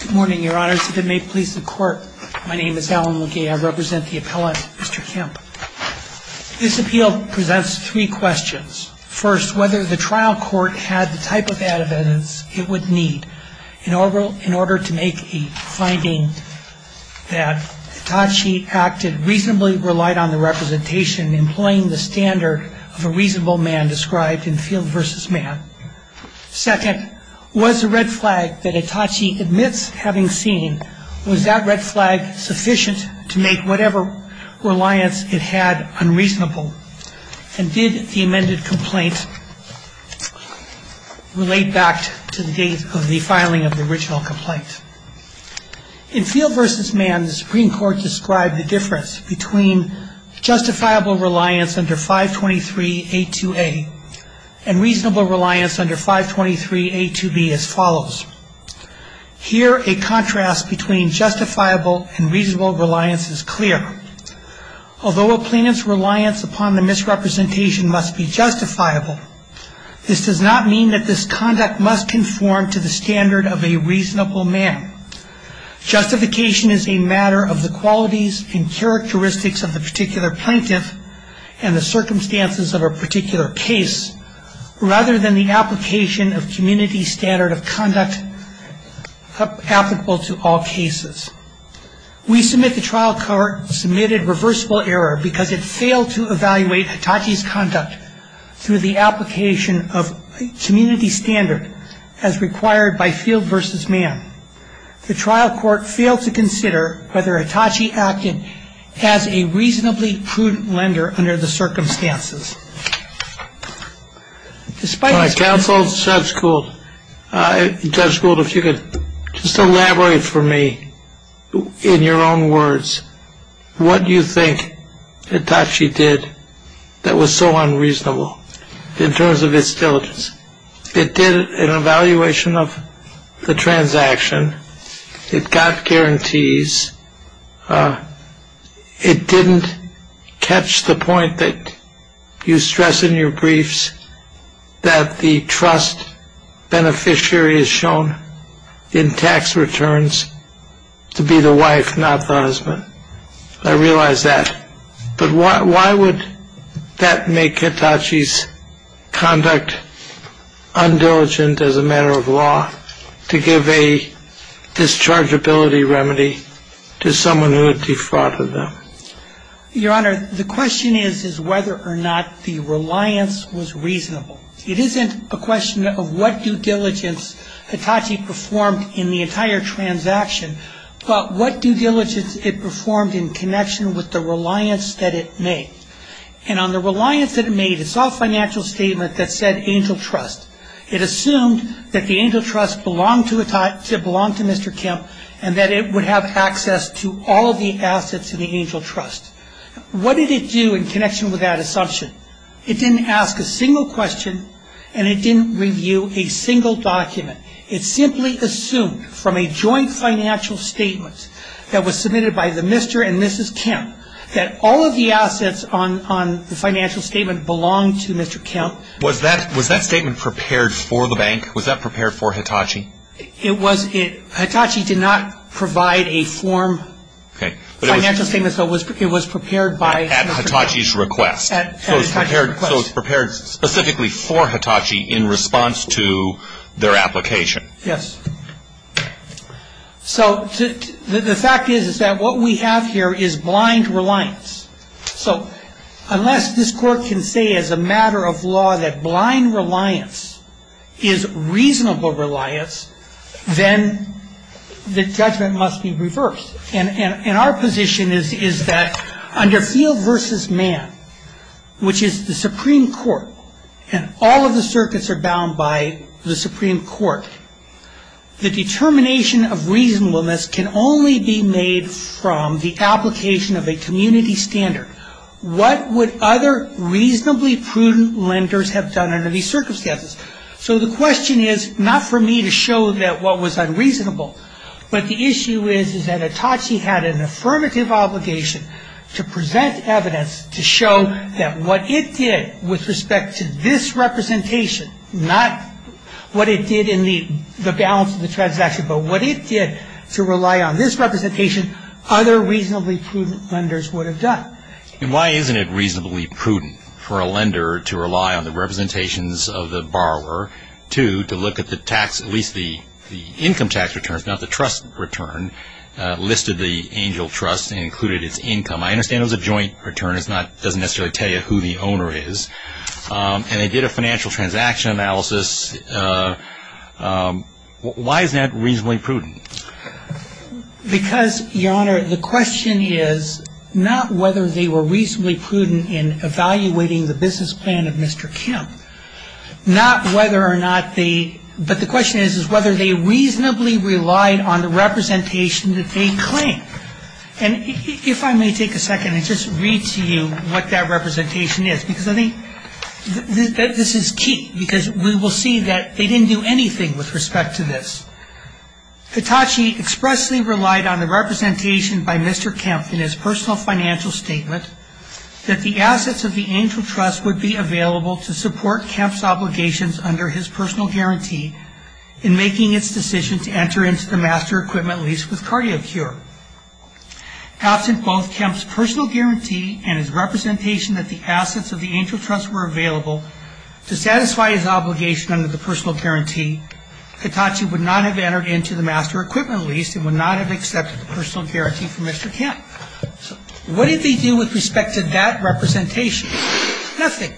Good morning, your honors. If it may please the court, my name is Alan LeGay. I represent the appellant, Mr. Kempf. This appeal presents three questions. First, whether the trial court had the type of evidence it would need in order to make a finding that Hitachi acted reasonably, relied on the representation, employing the standard of a reasonable man described in Field vs. Man. Second, was the red flag that Hitachi admits having seen, was that red flag sufficient to make whatever reliance it had unreasonable? And did the amended complaint relate back to the date of the filing of the original complaint? In Field vs. Man, the Supreme Court described the difference between justifiable reliance under 523.82a and reasonable reliance under 523.82b as follows. Here, a contrast between justifiable and reasonable reliance is clear. Although a plaintiff's reliance upon the misrepresentation must be justifiable, this does not mean that this conduct must conform to the standard of a reasonable man. Justification is a matter of the qualities and characteristics of the particular plaintiff and the circumstances of a particular case rather than the application of community standard of conduct applicable to all cases. We submit the trial court submitted reversible error because it failed to evaluate Hitachi's conduct through the application of community standard as required by Field vs. Man. The trial court failed to consider whether Hitachi acted as a reasonably prudent lender under the circumstances. When I counseled Judge Gould, Judge Gould, if you could just elaborate for me in your own words what you think Hitachi did that was so unreasonable in terms of its diligence. It did an evaluation of the transaction. It got guarantees. It didn't catch the point that you stress in your briefs that the trust beneficiary is shown in tax returns to be the wife, not the husband. I realize that, but why would that make Hitachi's conduct undiligent as a matter of law to give a dischargeability remedy to someone who had defrauded them? Your Honor, the question is whether or not the reliance was reasonable. It isn't a question of what due diligence Hitachi performed in the entire transaction, but what due diligence it performed in connection with the reliance that it made. And on the reliance that it made, it's all financial statement that said angel trust. It assumed that the angel trust belonged to Mr. Kemp and that it would have access to all the assets in the angel trust. What did it do in connection with that assumption? It didn't ask a single question and it didn't review a single document. It simply assumed from a joint financial statement that was submitted by the Mr. and Mrs. Kemp that all of the assets on the financial statement belonged to Mr. Kemp. Was that statement prepared for the bank? Was that prepared for Hitachi? Hitachi did not provide a form financial statement, so it was prepared by Mr. Kemp. At Hitachi's request. So it's prepared specifically for Hitachi in response to their application. Yes. So the fact is that what we have here is blind reliance. So unless this court can say as a matter of law that blind reliance is reasonable reliance, then the judgment must be reversed. And our position is that under field versus man, which is the Supreme Court, and all of the circuits are bound by the Supreme Court, the determination of reasonableness can only be made from the application of a community standard. What would other reasonably prudent lenders have done under these circumstances? So the question is not for me to show that what was unreasonable, but the issue is that Hitachi had an affirmative obligation to present evidence to show that what it did with respect to this representation, not what it did in the balance of the transaction, but what it did to rely on this representation, other reasonably prudent lenders would have done. And why isn't it reasonably prudent for a lender to rely on the representations of the borrower to look at the tax, at least the income tax returns, not the trust return, listed the angel trust and included its income. I understand it was a joint return. It doesn't necessarily tell you who the owner is. And they did a financial transaction analysis. Why isn't that reasonably prudent? Because, Your Honor, the question is not whether they were reasonably prudent in evaluating the business plan of Mr. Kemp, but the question is whether they reasonably relied on the representation that they claimed. And if I may take a second and just read to you what that representation is, because I think this is key because we will see that they didn't do anything with respect to this. Hitachi expressly relied on the representation by Mr. Kemp in his personal financial statement that the assets of the angel trust would be available to support Kemp's obligations under his personal guarantee in making its decision to enter into the master equipment lease with CardioCure. Absent both Kemp's personal guarantee and his representation that the assets of the angel trust were available to satisfy his obligation under the personal guarantee, Hitachi would not have entered into the master equipment lease and would not have accepted the personal guarantee from Mr. Kemp. What did they do with respect to that representation? Nothing.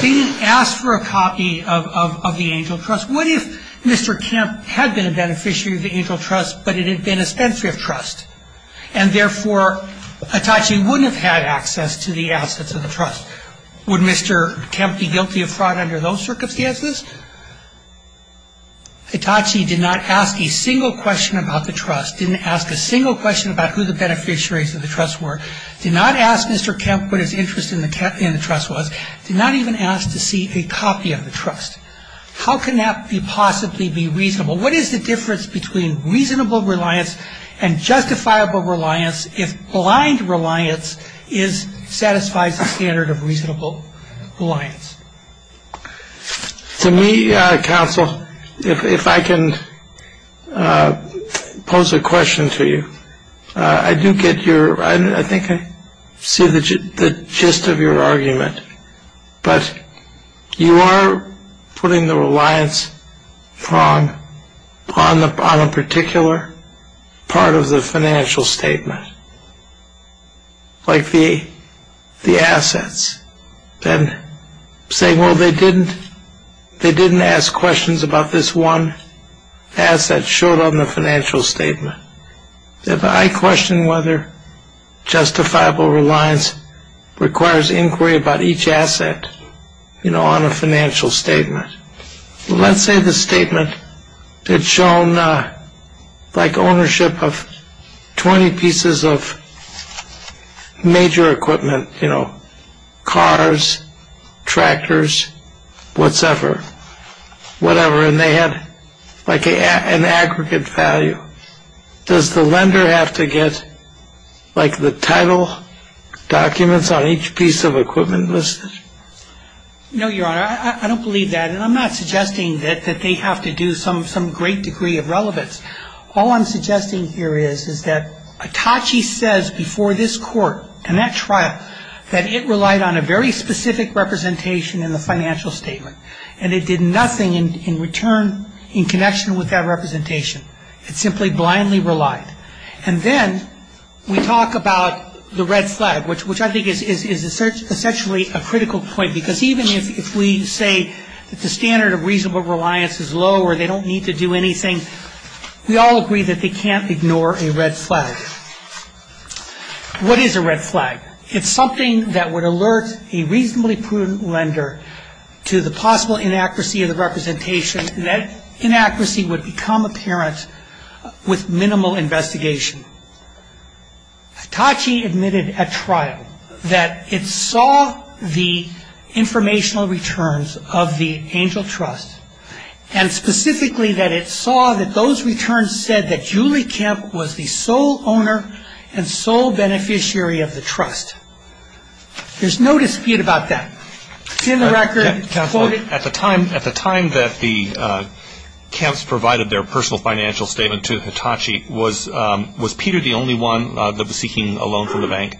They didn't ask for a copy of the angel trust. What if Mr. Kemp had been a beneficiary of the angel trust, but it had been a spent trust, and therefore Hitachi wouldn't have had access to the assets of the trust? Would Mr. Kemp be guilty of fraud under those circumstances? Hitachi did not ask a single question about the trust, didn't ask a single question about who the beneficiaries of the trust were, did not ask Mr. Kemp what his interest in the trust was, did not even ask to see a copy of the trust. How can that possibly be reasonable? What is the difference between reasonable reliance and justifiable reliance if blind reliance satisfies the standard of reasonable reliance? To me, counsel, if I can pose a question to you, I do get your, I think I see the gist of your argument, but you are putting the reliance on a particular part of the financial statement, like the assets. Then saying, well, they didn't ask questions about this one asset showed on the financial statement. If I question whether justifiable reliance requires inquiry about each asset, you know, on a financial statement. Let's say the statement had shown like ownership of 20 pieces of major equipment, you know, cars, tractors, whatever, and they had like an aggregate value. Does the lender have to get like the title documents on each piece of equipment listed? No, Your Honor. I don't believe that, and I'm not suggesting that they have to do some great degree of relevance. All I'm suggesting here is that Atachi says before this court and that trial that it relied on a very specific representation in the financial statement, and it did nothing in return in connection with that representation. It simply blindly relied. And then we talk about the red flag, which I think is essentially a critical point, because even if we say that the standard of reasonable reliance is low or they don't need to do anything, we all agree that they can't ignore a red flag. What is a red flag? It's something that would alert a reasonably prudent lender to the possible inaccuracy of the representation, and that inaccuracy would become apparent with minimal investigation. Atachi admitted at trial that it saw the informational returns of the Angel Trust and specifically that it saw that those returns said that Julie Kemp was the sole owner and sole beneficiary of the trust. There's no dispute about that. It's in the record. At the time that the Kemps provided their personal financial statement to Atachi, was Peter the only one that was seeking a loan from the bank?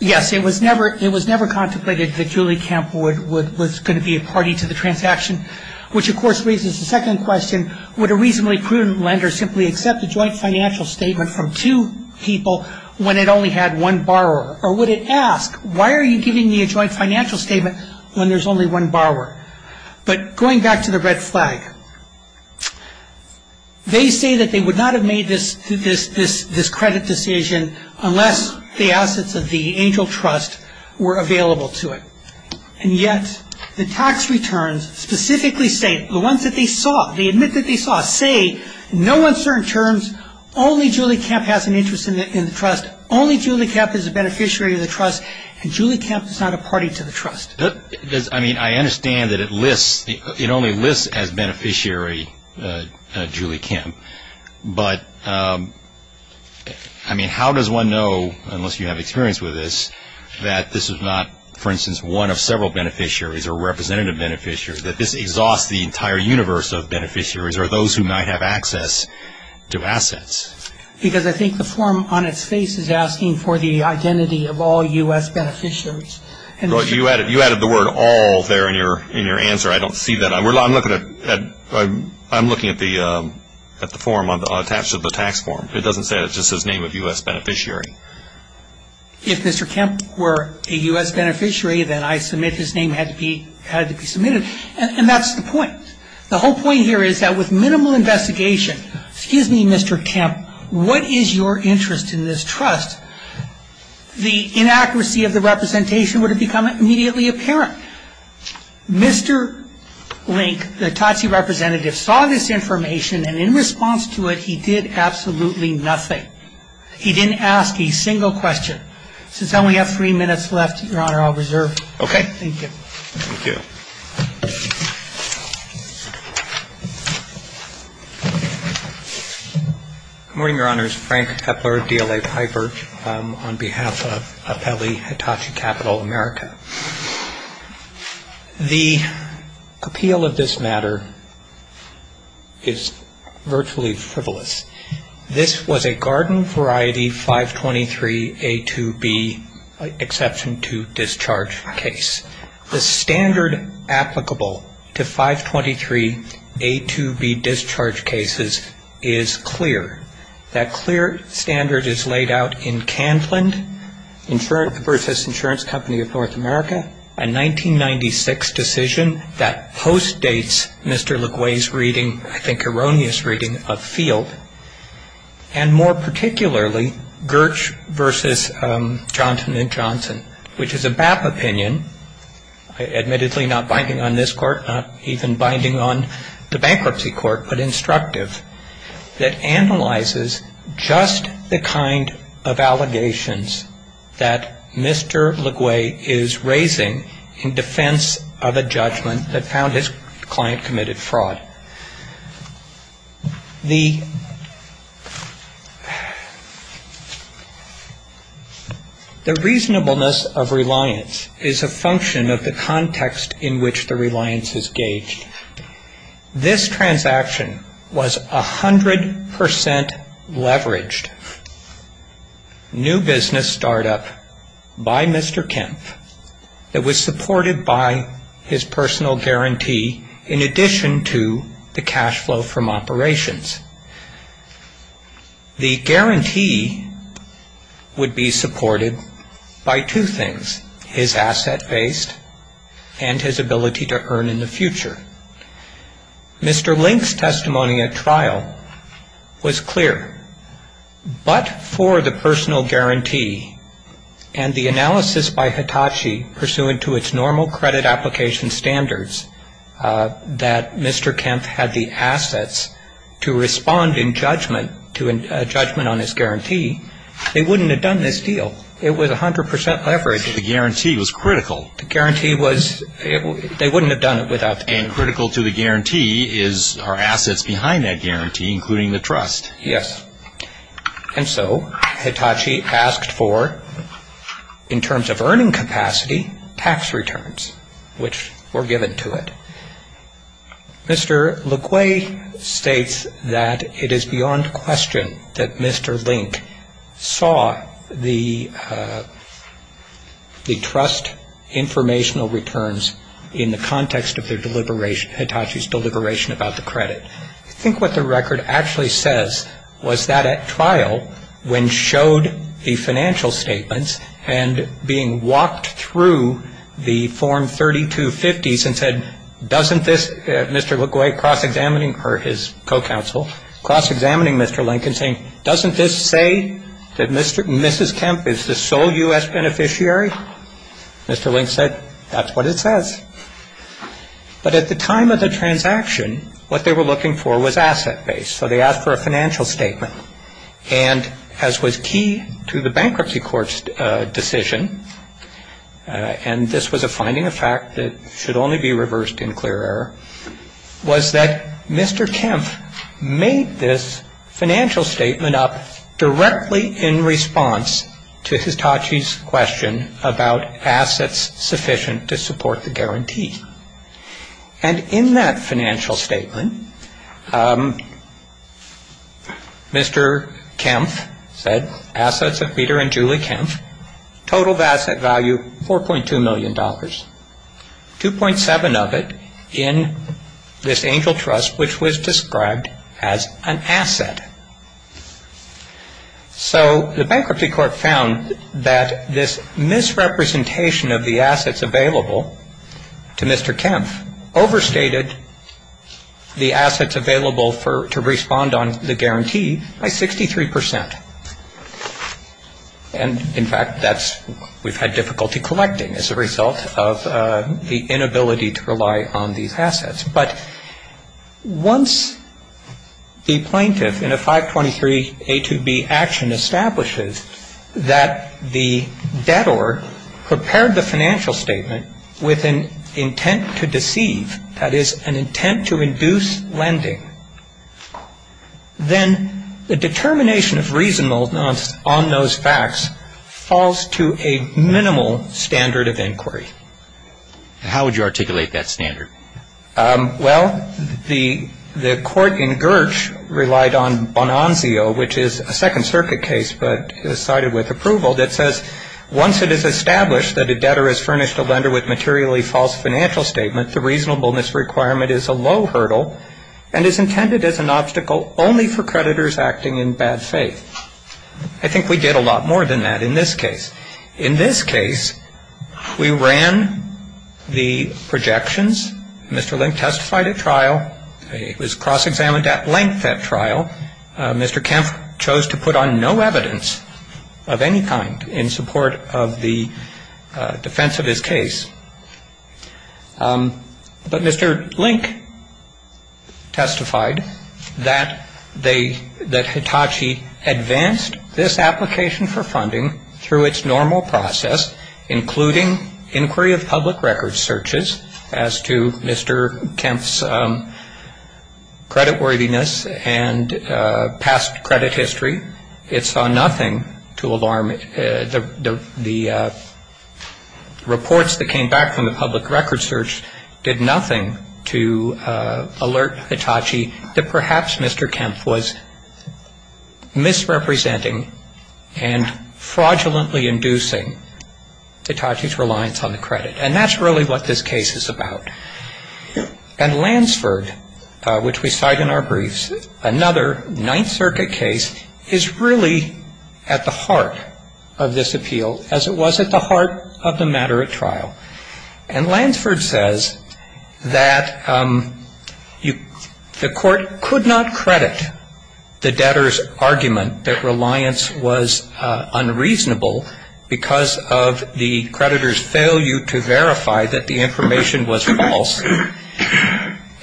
Yes. It was never contemplated that Julie Kemp was going to be a party to the transaction, which, of course, raises the second question, would a reasonably prudent lender simply accept a joint financial statement from two people when it only had one borrower, or would it ask, why are you giving me a joint financial statement when there's only one borrower? But going back to the red flag, they say that they would not have made this credit decision unless the assets of the Angel Trust were available to it, and yet the tax returns specifically say, the ones that they saw, they admit that they saw, say no uncertain terms, only Julie Kemp has an interest in the trust, but only Julie Kemp is a beneficiary of the trust, and Julie Kemp is not a party to the trust. I mean, I understand that it only lists as beneficiary Julie Kemp, but I mean, how does one know, unless you have experience with this, that this is not, for instance, one of several beneficiaries or representative beneficiaries, that this exhausts the entire universe of beneficiaries or those who might have access to assets? Because I think the form on its face is asking for the identity of all U.S. beneficiaries. You added the word all there in your answer. I don't see that. I'm looking at the form attached to the tax form. It doesn't say it. It just says name of U.S. beneficiary. If Mr. Kemp were a U.S. beneficiary, then I submit his name had to be submitted. And that's the point. The whole point here is that with minimal investigation, excuse me, Mr. Kemp, what is your interest in this trust, the inaccuracy of the representation would have become immediately apparent. Mr. Link, the Totsie representative, saw this information, and in response to it he did absolutely nothing. He didn't ask a single question. Since I only have three minutes left, Your Honor, I'll reserve. Okay. Thank you. Thank you. Good morning, Your Honors. Frank Kepler, DLA Piper, on behalf of Appellee Hitachi Capital America. The appeal of this matter is virtually frivolous. This was a garden variety 523A2B exception to discharge case. The standard applicable to 523A2B discharge cases is clear. That clear standard is laid out in Candland versus Insurance Company of North America, a 1996 decision that postdates Mr. LeGue's reading, I think erroneous reading, of Field. And more particularly, Girch versus Johnson & Johnson, which is a BAP opinion, admittedly not binding on this court, not even binding on the bankruptcy court, that analyzes just the kind of allegations that Mr. LeGue is raising in defense of a judgment that found his client committed fraud. The reasonableness of reliance is a function of the context in which the reliance is gauged. This transaction was 100% leveraged, new business startup by Mr. Kemp, that was supported by his personal guarantee in addition to the cash flow from operations. The guarantee would be supported by two things, his asset base and his ability to earn in the future. Mr. Link's testimony at trial was clear. But for the personal guarantee and the analysis by Hitachi pursuant to its normal credit application standards, that Mr. Kemp had the assets to respond in judgment to a judgment on his guarantee, they wouldn't have done this deal. It was 100% leveraged. The guarantee was critical. And critical to the guarantee is our assets behind that guarantee, including the trust. Yes. And so Hitachi asked for, in terms of earning capacity, tax returns, which were given to it. Mr. LeGue states that it is beyond question that Mr. Link saw the trust informational returns in the context of Hitachi's deliberation about the credit. I think what the record actually says was that at trial, when showed the financial statements and being walked through the Form 3250s and said, doesn't this, Mr. LeGue cross-examining, or his co-counsel, cross-examining Mr. Link and saying, doesn't this say that Mrs. Kemp is the sole U.S. beneficiary? Mr. Link said, that's what it says. But at the time of the transaction, what they were looking for was asset base. So they asked for a financial statement. And as was key to the bankruptcy court's decision, and this was a finding of fact that should only be reversed in clear error, was that Mr. Kemp made this financial statement up directly in response to Hitachi's question about assets sufficient to support the guarantee. And in that financial statement, Mr. Kemp said, assets of Peter and Julie Kemp, total of asset value $4.2 million, $2.7 of it in this angel trust which was described as an asset. So the bankruptcy court found that this misrepresentation of the assets available to Mr. Kemp overstated the assets available to respond on the guarantee by 63%. And in fact, that's, we've had difficulty collecting as a result of the inability to rely on these assets. But once the plaintiff in a 523A2B action establishes that the debtor prepared the financial statement with an intent to deceive, that is, an intent to induce lending, then the determination of reasonableness on those facts falls to a minimal standard of inquiry. How would you articulate that standard? Well, the court in Girch relied on Bonanzio, which is a Second Circuit case but cited with approval, that says, once it is established that a debtor has furnished a lender with materially false financial statement, the reasonableness requirement is a low hurdle and is intended as an obstacle only for creditors acting in bad faith. I think we did a lot more than that in this case. In this case, we ran the projections. Mr. Link testified at trial. It was cross-examined at length at trial. Mr. Kemp chose to put on no evidence of any kind in support of the defense of his case. He advanced this application for funding through its normal process, including inquiry of public record searches as to Mr. Kemp's creditworthiness and past credit history. It saw nothing to alarm the reports that came back from the public record search did nothing to alert Hitachi that perhaps Mr. Kemp was representing and fraudulently inducing Hitachi's reliance on the credit. And that's really what this case is about. And Lansford, which we cite in our briefs, another Ninth Circuit case, is really at the heart of this appeal, as it was at the heart of the matter at trial. And Lansford says that the court could not credit the debtor's argument that reliance was unreasonable because of the creditor's failure to verify that the information was false.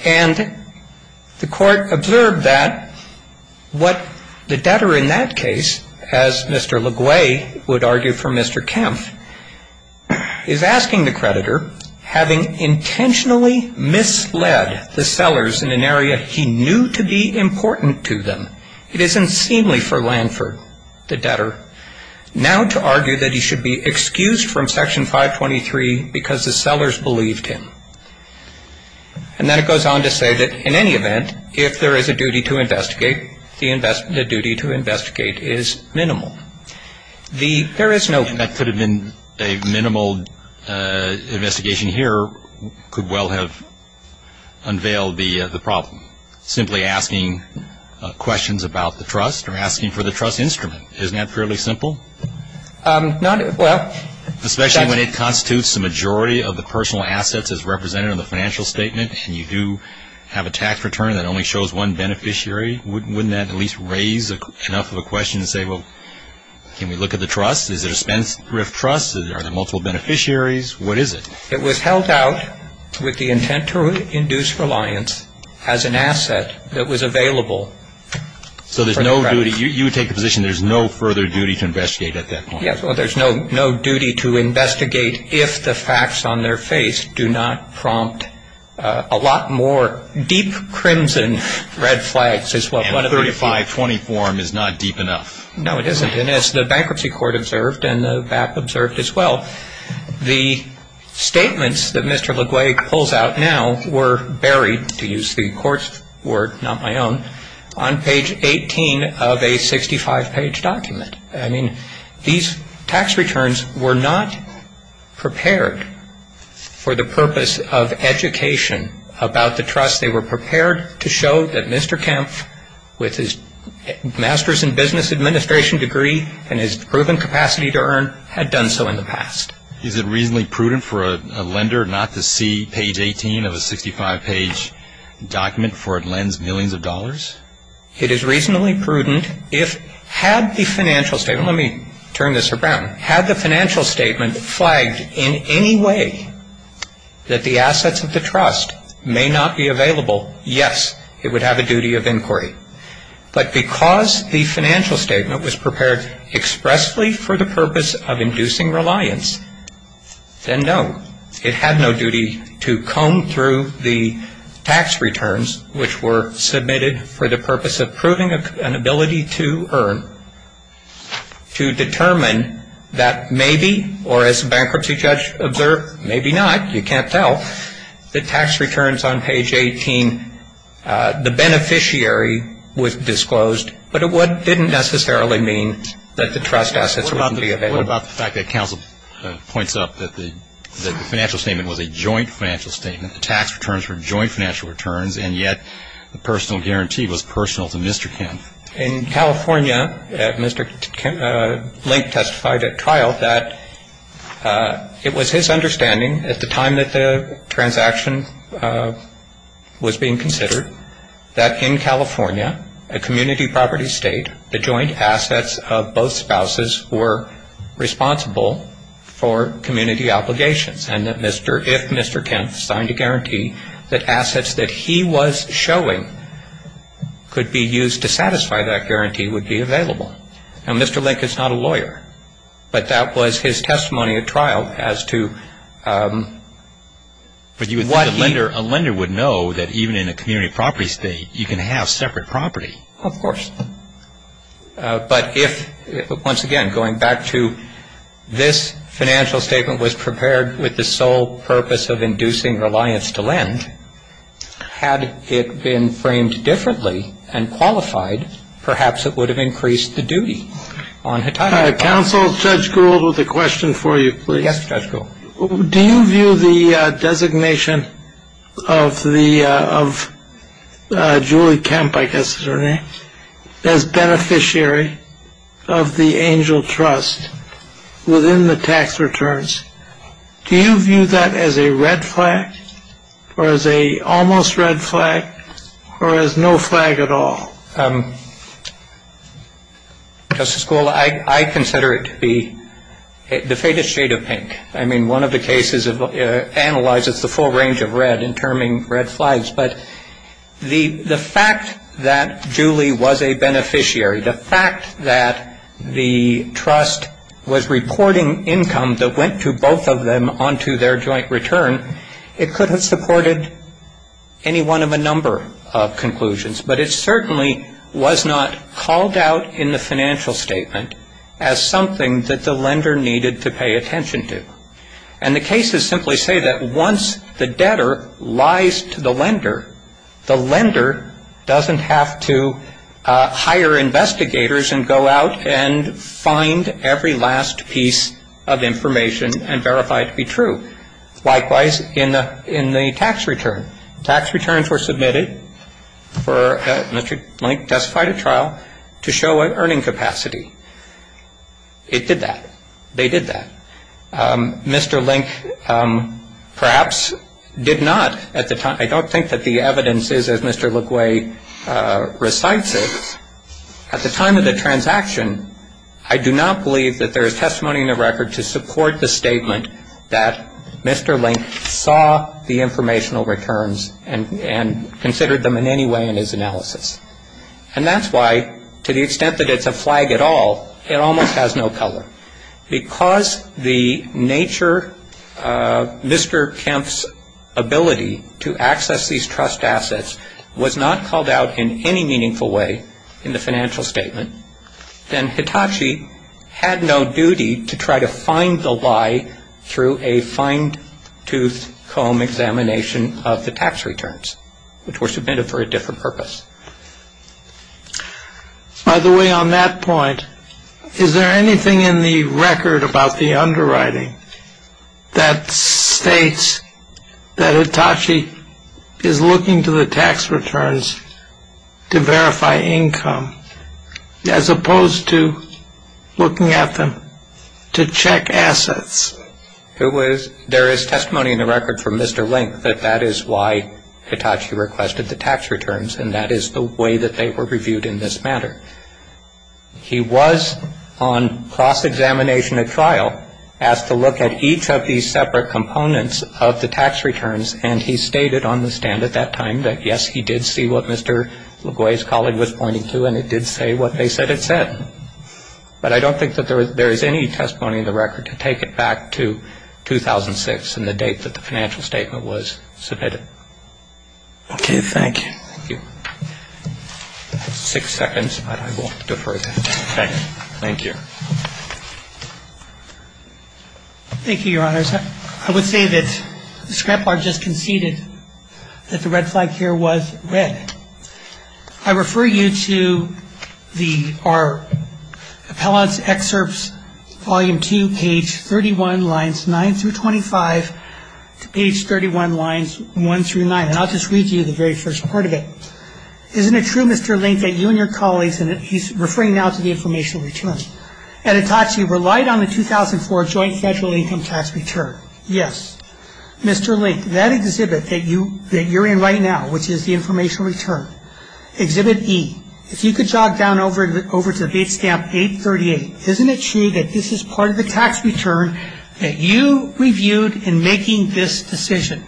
And the court observed that what the debtor in that case, as Mr. LeGue would argue for Mr. Kemp, is asking the court to credit the creditor having intentionally misled the sellers in an area he knew to be important to them. It is unseemly for Lansford, the debtor, now to argue that he should be excused from Section 523 because the sellers believed him. And then it goes on to say that in any event, if there is a duty to investigate, the duty to investigate is minimal. There is no question that could have been a minimal investigation here could well have unveiled the problem. Simply asking questions about the trust or asking for the trust instrument. Isn't that fairly simple? Especially when it constitutes the majority of the personal assets as represented in the financial statement and you do have a tax return that only allows you to raise enough of a question and say, well, can we look at the trust? Is it a spendthrift trust? Are there multiple beneficiaries? What is it? It was held out with the intent to induce reliance as an asset that was available. So there's no duty. You take the position there's no further duty to investigate at that point. Well, there's no duty to investigate if the facts on their face do not prompt a lot more deep crimson red flags. And the 3520 form is not deep enough. No, it isn't. And as the Bankruptcy Court observed and the BAP observed as well, the statements that Mr. LeGue pulls out now were buried, to use the court's word, not my own, on page 18 of a 65-page document. I mean, these tax returns were not prepared for the purpose of education about the trust. They were prepared to show that Mr. Kempf, with his Master's in Business Administration degree and his proven capacity to earn, had done so in the past. Is it reasonably prudent for a lender not to see page 18 of a 65-page document, for it lends millions of dollars? It is reasonably prudent if, had the financial statement, let me turn this around, had the financial statement flagged in any way that the assets of the trust may not be available, yes, it would have a duty of inquiry. But because the financial statement was prepared expressly for the purpose of inducing reliance, then no, it had no duty to comb through the tax returns which were submitted for that purpose. It was prepared for the purpose of proving an ability to earn, to determine that maybe, or as a bankruptcy judge observed, maybe not, you can't tell, the tax returns on page 18, the beneficiary was disclosed, but it didn't necessarily mean that the trust assets wouldn't be available. What about the fact that counsel points out that the financial statement was a joint financial statement, the tax returns were joint financial returns, and yet the personal guarantee was personal to Mr. Kempf? In California, Mr. Kempf, Link testified at trial that it was his understanding at the time that the transaction was being considered, that in California, a community property state, the joint assets of both spouses were responsible for community obligations, and that if Mr. Kempf signed a guarantee, that assets that he was showing could be used to satisfy that guarantee would be available. Now, Mr. Link is not a lawyer, but that was his testimony at trial as to what he. But you would think a lender would know that even in a community property state, you can have separate property. Of course. But if, once again, going back to this financial statement was prepared with the sole purpose of inducing reliance to lend, had it been framed differently and qualified, perhaps it would have increased the duty on Hitachi. Counsel, Judge Gould with a question for you, please. Yes, Judge Gould. Do you view the designation of Julie Kempf, I guess is her name, as beneficiary of the Angel Trust within the tax returns? Do you view that as a red flag or as a almost red flag or as no flag at all? Justice Gould, I consider it to be the faintest shade of pink. I mean, one of the cases analyzes the full range of red in terming red flags. But the fact that Julie was a beneficiary, the fact that the trust was reporting income that went to both of them onto their joint return, it could have supported any one of a number of conclusions. But it certainly was not called out in the financial statement as something that the lender needed to pay attention to. And the cases simply say that once the debtor lies to the lender, the lender doesn't have to hire investigators and go out and find every last piece of information and verify it to be true. Likewise, in the tax return. Tax returns were submitted for Mr. Link testified at trial to show an earning capacity. It did that. They did that. Mr. Link perhaps did not at the time. I don't think that the evidence is, as Mr. Leclerc recites it. At the time of the transaction, I do not believe that there is testimony in the record to support the statement that Mr. Link saw the informational returns and considered them in any way in his analysis. And that's why, to the extent that it's a flag at all, it almost has no color. Because the nature of Mr. Kemp's ability to access information, to access these trust assets, was not called out in any meaningful way in the financial statement, then Hitachi had no duty to try to find the lie through a fine-toothed comb examination of the tax returns, which were submitted for a different purpose. By the way, on that point, is there anything in the record about the underwriting that states that Hitachi is looking to the tax returns to verify income, as opposed to looking at them to check assets? There is testimony in the record from Mr. Link that that is why Hitachi requested the tax returns, and that is the way that they were reviewed in this matter. He was, on cross-examination at trial, asked to look at each of these separate components of the tax returns, and he stated on the stand at that time that, yes, he did see what Mr. LeGloy's colleague was pointing to, and it did say what they said it said. But I don't think that there is any testimony in the record to take it back to 2006 and the date that the financial statement was submitted. Okay. Thank you. I have six seconds, but I won't defer that. Thank you. Thank you, Your Honors. I would say that the scrapbook just conceded that the red flag here was red. I refer you to our appellant's excerpts, volume 2, page 31, lines 9 through 25, to page 31, lines 1 through 9. And I'll just read to you the very first part of it. It says, isn't it true, Mr. Link, that you and your colleagues, and he's referring now to the informational return, at Hitachi relied on the 2004 joint federal income tax return? Yes. Mr. Link, that exhibit that you're in right now, which is the informational return, exhibit E, if you could jog down over to date stamp 838, isn't it true that this is part of the tax return that you reviewed in making this decision?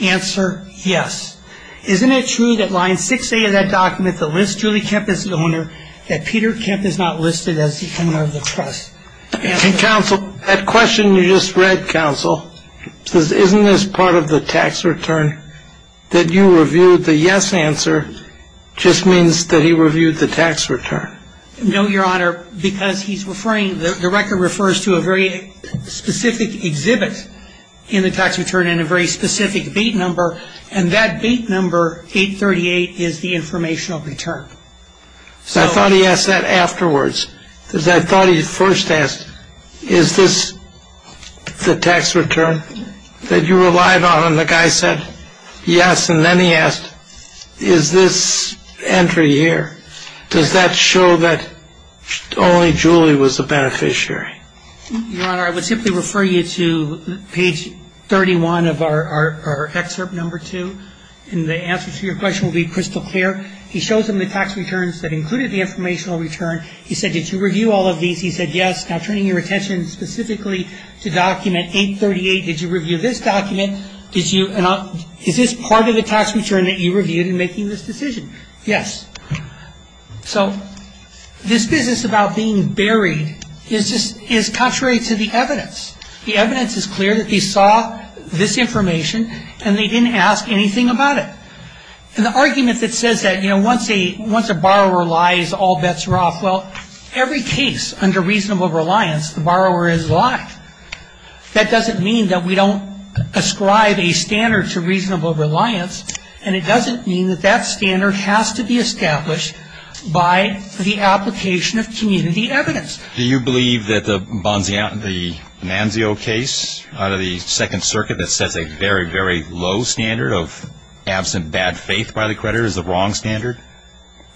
Answer, yes. Isn't it true that line 6A of that document that lists Julie Kemp as the owner, that Peter Kemp is not listed as the owner of the trust? Counsel, that question you just read, Counsel, says isn't this part of the tax return that you reviewed? The yes answer just means that he reviewed the tax return. No, Your Honor, because he's referring, the record refers to a very specific exhibit in the tax return and a very specific date number, and that date number, 838, is the informational return. I thought he asked that afterwards, because I thought he first asked, is this the tax return that you relied on, and the guy said yes, and then he asked, is this entry here, does that show that only Julie was the beneficiary? Your Honor, I would simply refer you to page 31 of our excerpt number 2, and the answer to your question will be crystal clear. He shows them the tax returns that included the informational return. He said, did you review all of these? He said yes. Now, turning your attention specifically to document 838, did you review this document? Is this part of the tax return that you reviewed in making this decision? Yes. So this business about being buried is contrary to the evidence. The evidence is clear that they saw this information, and they didn't ask anything about it. And the argument that says that, you know, once a borrower lies, all bets are off, well, every case under reasonable reliance, the borrower is a lie. That doesn't mean that we don't ascribe a standard to reasonable reliance, and it doesn't mean that that standard has to be established by the application of community evidence. Do you believe that the Manzio case under the Second Circuit that says a very, very low standard of absent bad faith by the creditor is the wrong standard?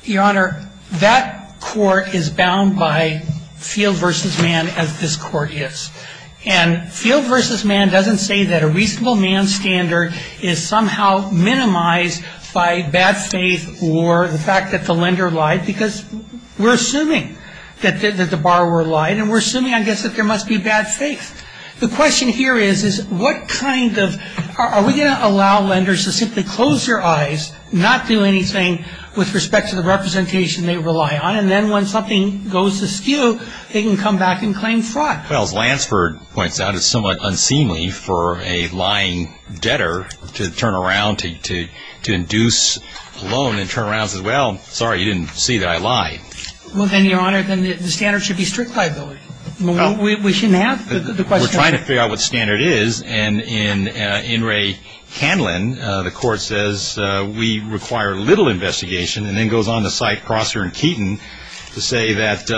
Your Honor, that court is bound by field versus man as this court is. And field versus man doesn't say that a reasonable man standard is somehow minimized by bad faith or the fact that the lender lied, because we're assuming that the borrower lied, and we're assuming, I guess, that there must be bad faith. The question here is, is what kind of are we going to allow lenders to simply close their eyes, not do anything with respect to the representation they rely on, and then when something goes askew, they can come back and claim fraud? Well, as Lansford points out, it's somewhat unseemly for a lying debtor to turn around, to induce a loan and turn around and say, well, sorry, you didn't see that I lied. Well, then, Your Honor, then the standard should be strict liability. We shouldn't have the question. We're trying to figure out what the standard is. And in In re Candlin, the court says we require little investigation, and then goes on to cite Prosser and Keaton to say that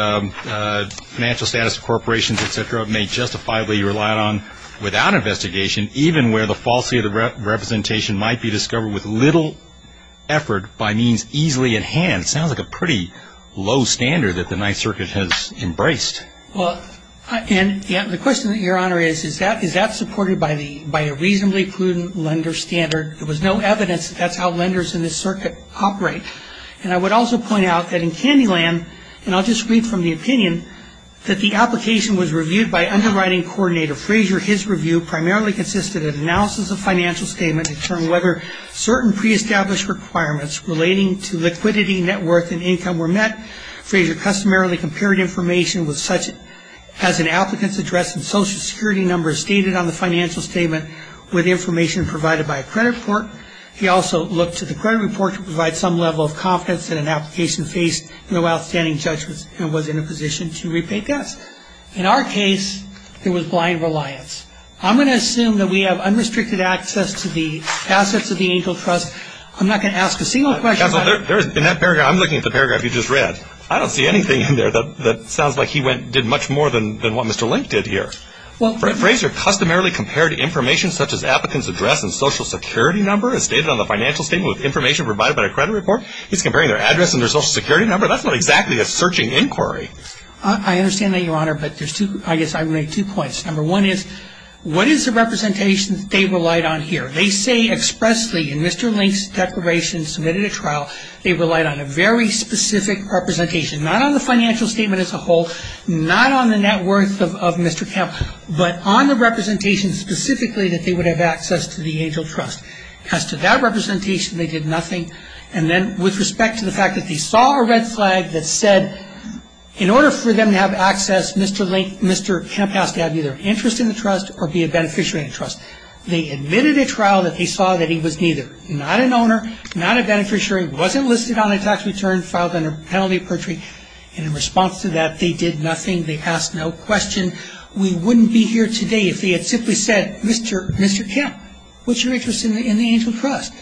financial status of corporations, et cetera, may justify what you relied on without investigation, even where the falsity of the representation might be discovered with little effort by means easily at hand. It sounds like a pretty low standard that the Ninth Circuit has embraced. Well, and the question, Your Honor, is, is that supported by a reasonably prudent lender standard? There was no evidence that that's how lenders in this circuit operate. And I would also point out that in Candlin, and I'll just read from the opinion, that the application was reviewed by underwriting coordinator Fraser. His review primarily consisted of analysis of financial statement to determine whether certain preestablished requirements relating to liquidity, net worth, and income were met. Fraser customarily compared information with such as an applicant's address and social security number stated on the financial statement with information provided by a credit report. He also looked to the credit report to provide some level of confidence that an application faced no outstanding judgments and was in a position to repay debts. In our case, it was blind reliance. I'm going to assume that we have unrestricted access to the assets of the Angel Trust. I'm not going to ask a single question. Counselor, there is, in that paragraph, I'm looking at the paragraph you just read. I don't see anything in there that sounds like he went, did much more than what Mr. Link did here. Fraser customarily compared information such as applicant's address and social security number as stated on the financial statement with information provided by a credit report. He's comparing their address and their social security number. That's not exactly a searching inquiry. I understand that, Your Honor, but I guess I'm going to make two points. Number one is, what is the representation they relied on here? They say expressly in Mr. Link's declaration submitted at trial, they relied on a very specific representation, not on the financial statement as a whole, not on the net worth of Mr. Camp, but on the representation specifically that they would have access to the Angel Trust. As to that representation, they did nothing. And then with respect to the fact that they saw a red flag that said, in order for them to have access, Mr. Camp has to have either interest in the trust or be a beneficiary of the trust. They admitted at trial that they saw that he was neither, not an owner, not a beneficiary, wasn't listed on a tax return, filed under penalty of perjury. And in response to that, they did nothing. They asked no question. We wouldn't be here today if they had simply said, Mr. Camp, what's your interest in the Angel Trust?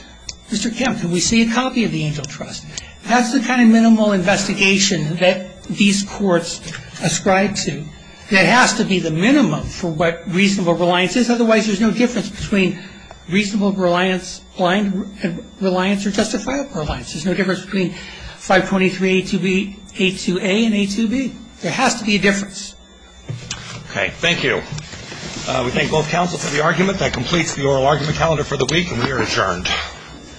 Mr. Camp, can we see a copy of the Angel Trust? That's the kind of minimal investigation that these courts ascribe to. There has to be the minimum for what reasonable reliance is. Otherwise, there's no difference between reasonable reliance or justifiable reliance. There's no difference between 523A2B, A2A, and A2B. There has to be a difference. Okay. Thank you. We thank both counsels for the argument. That completes the oral argument calendar for the week. We are adjourned.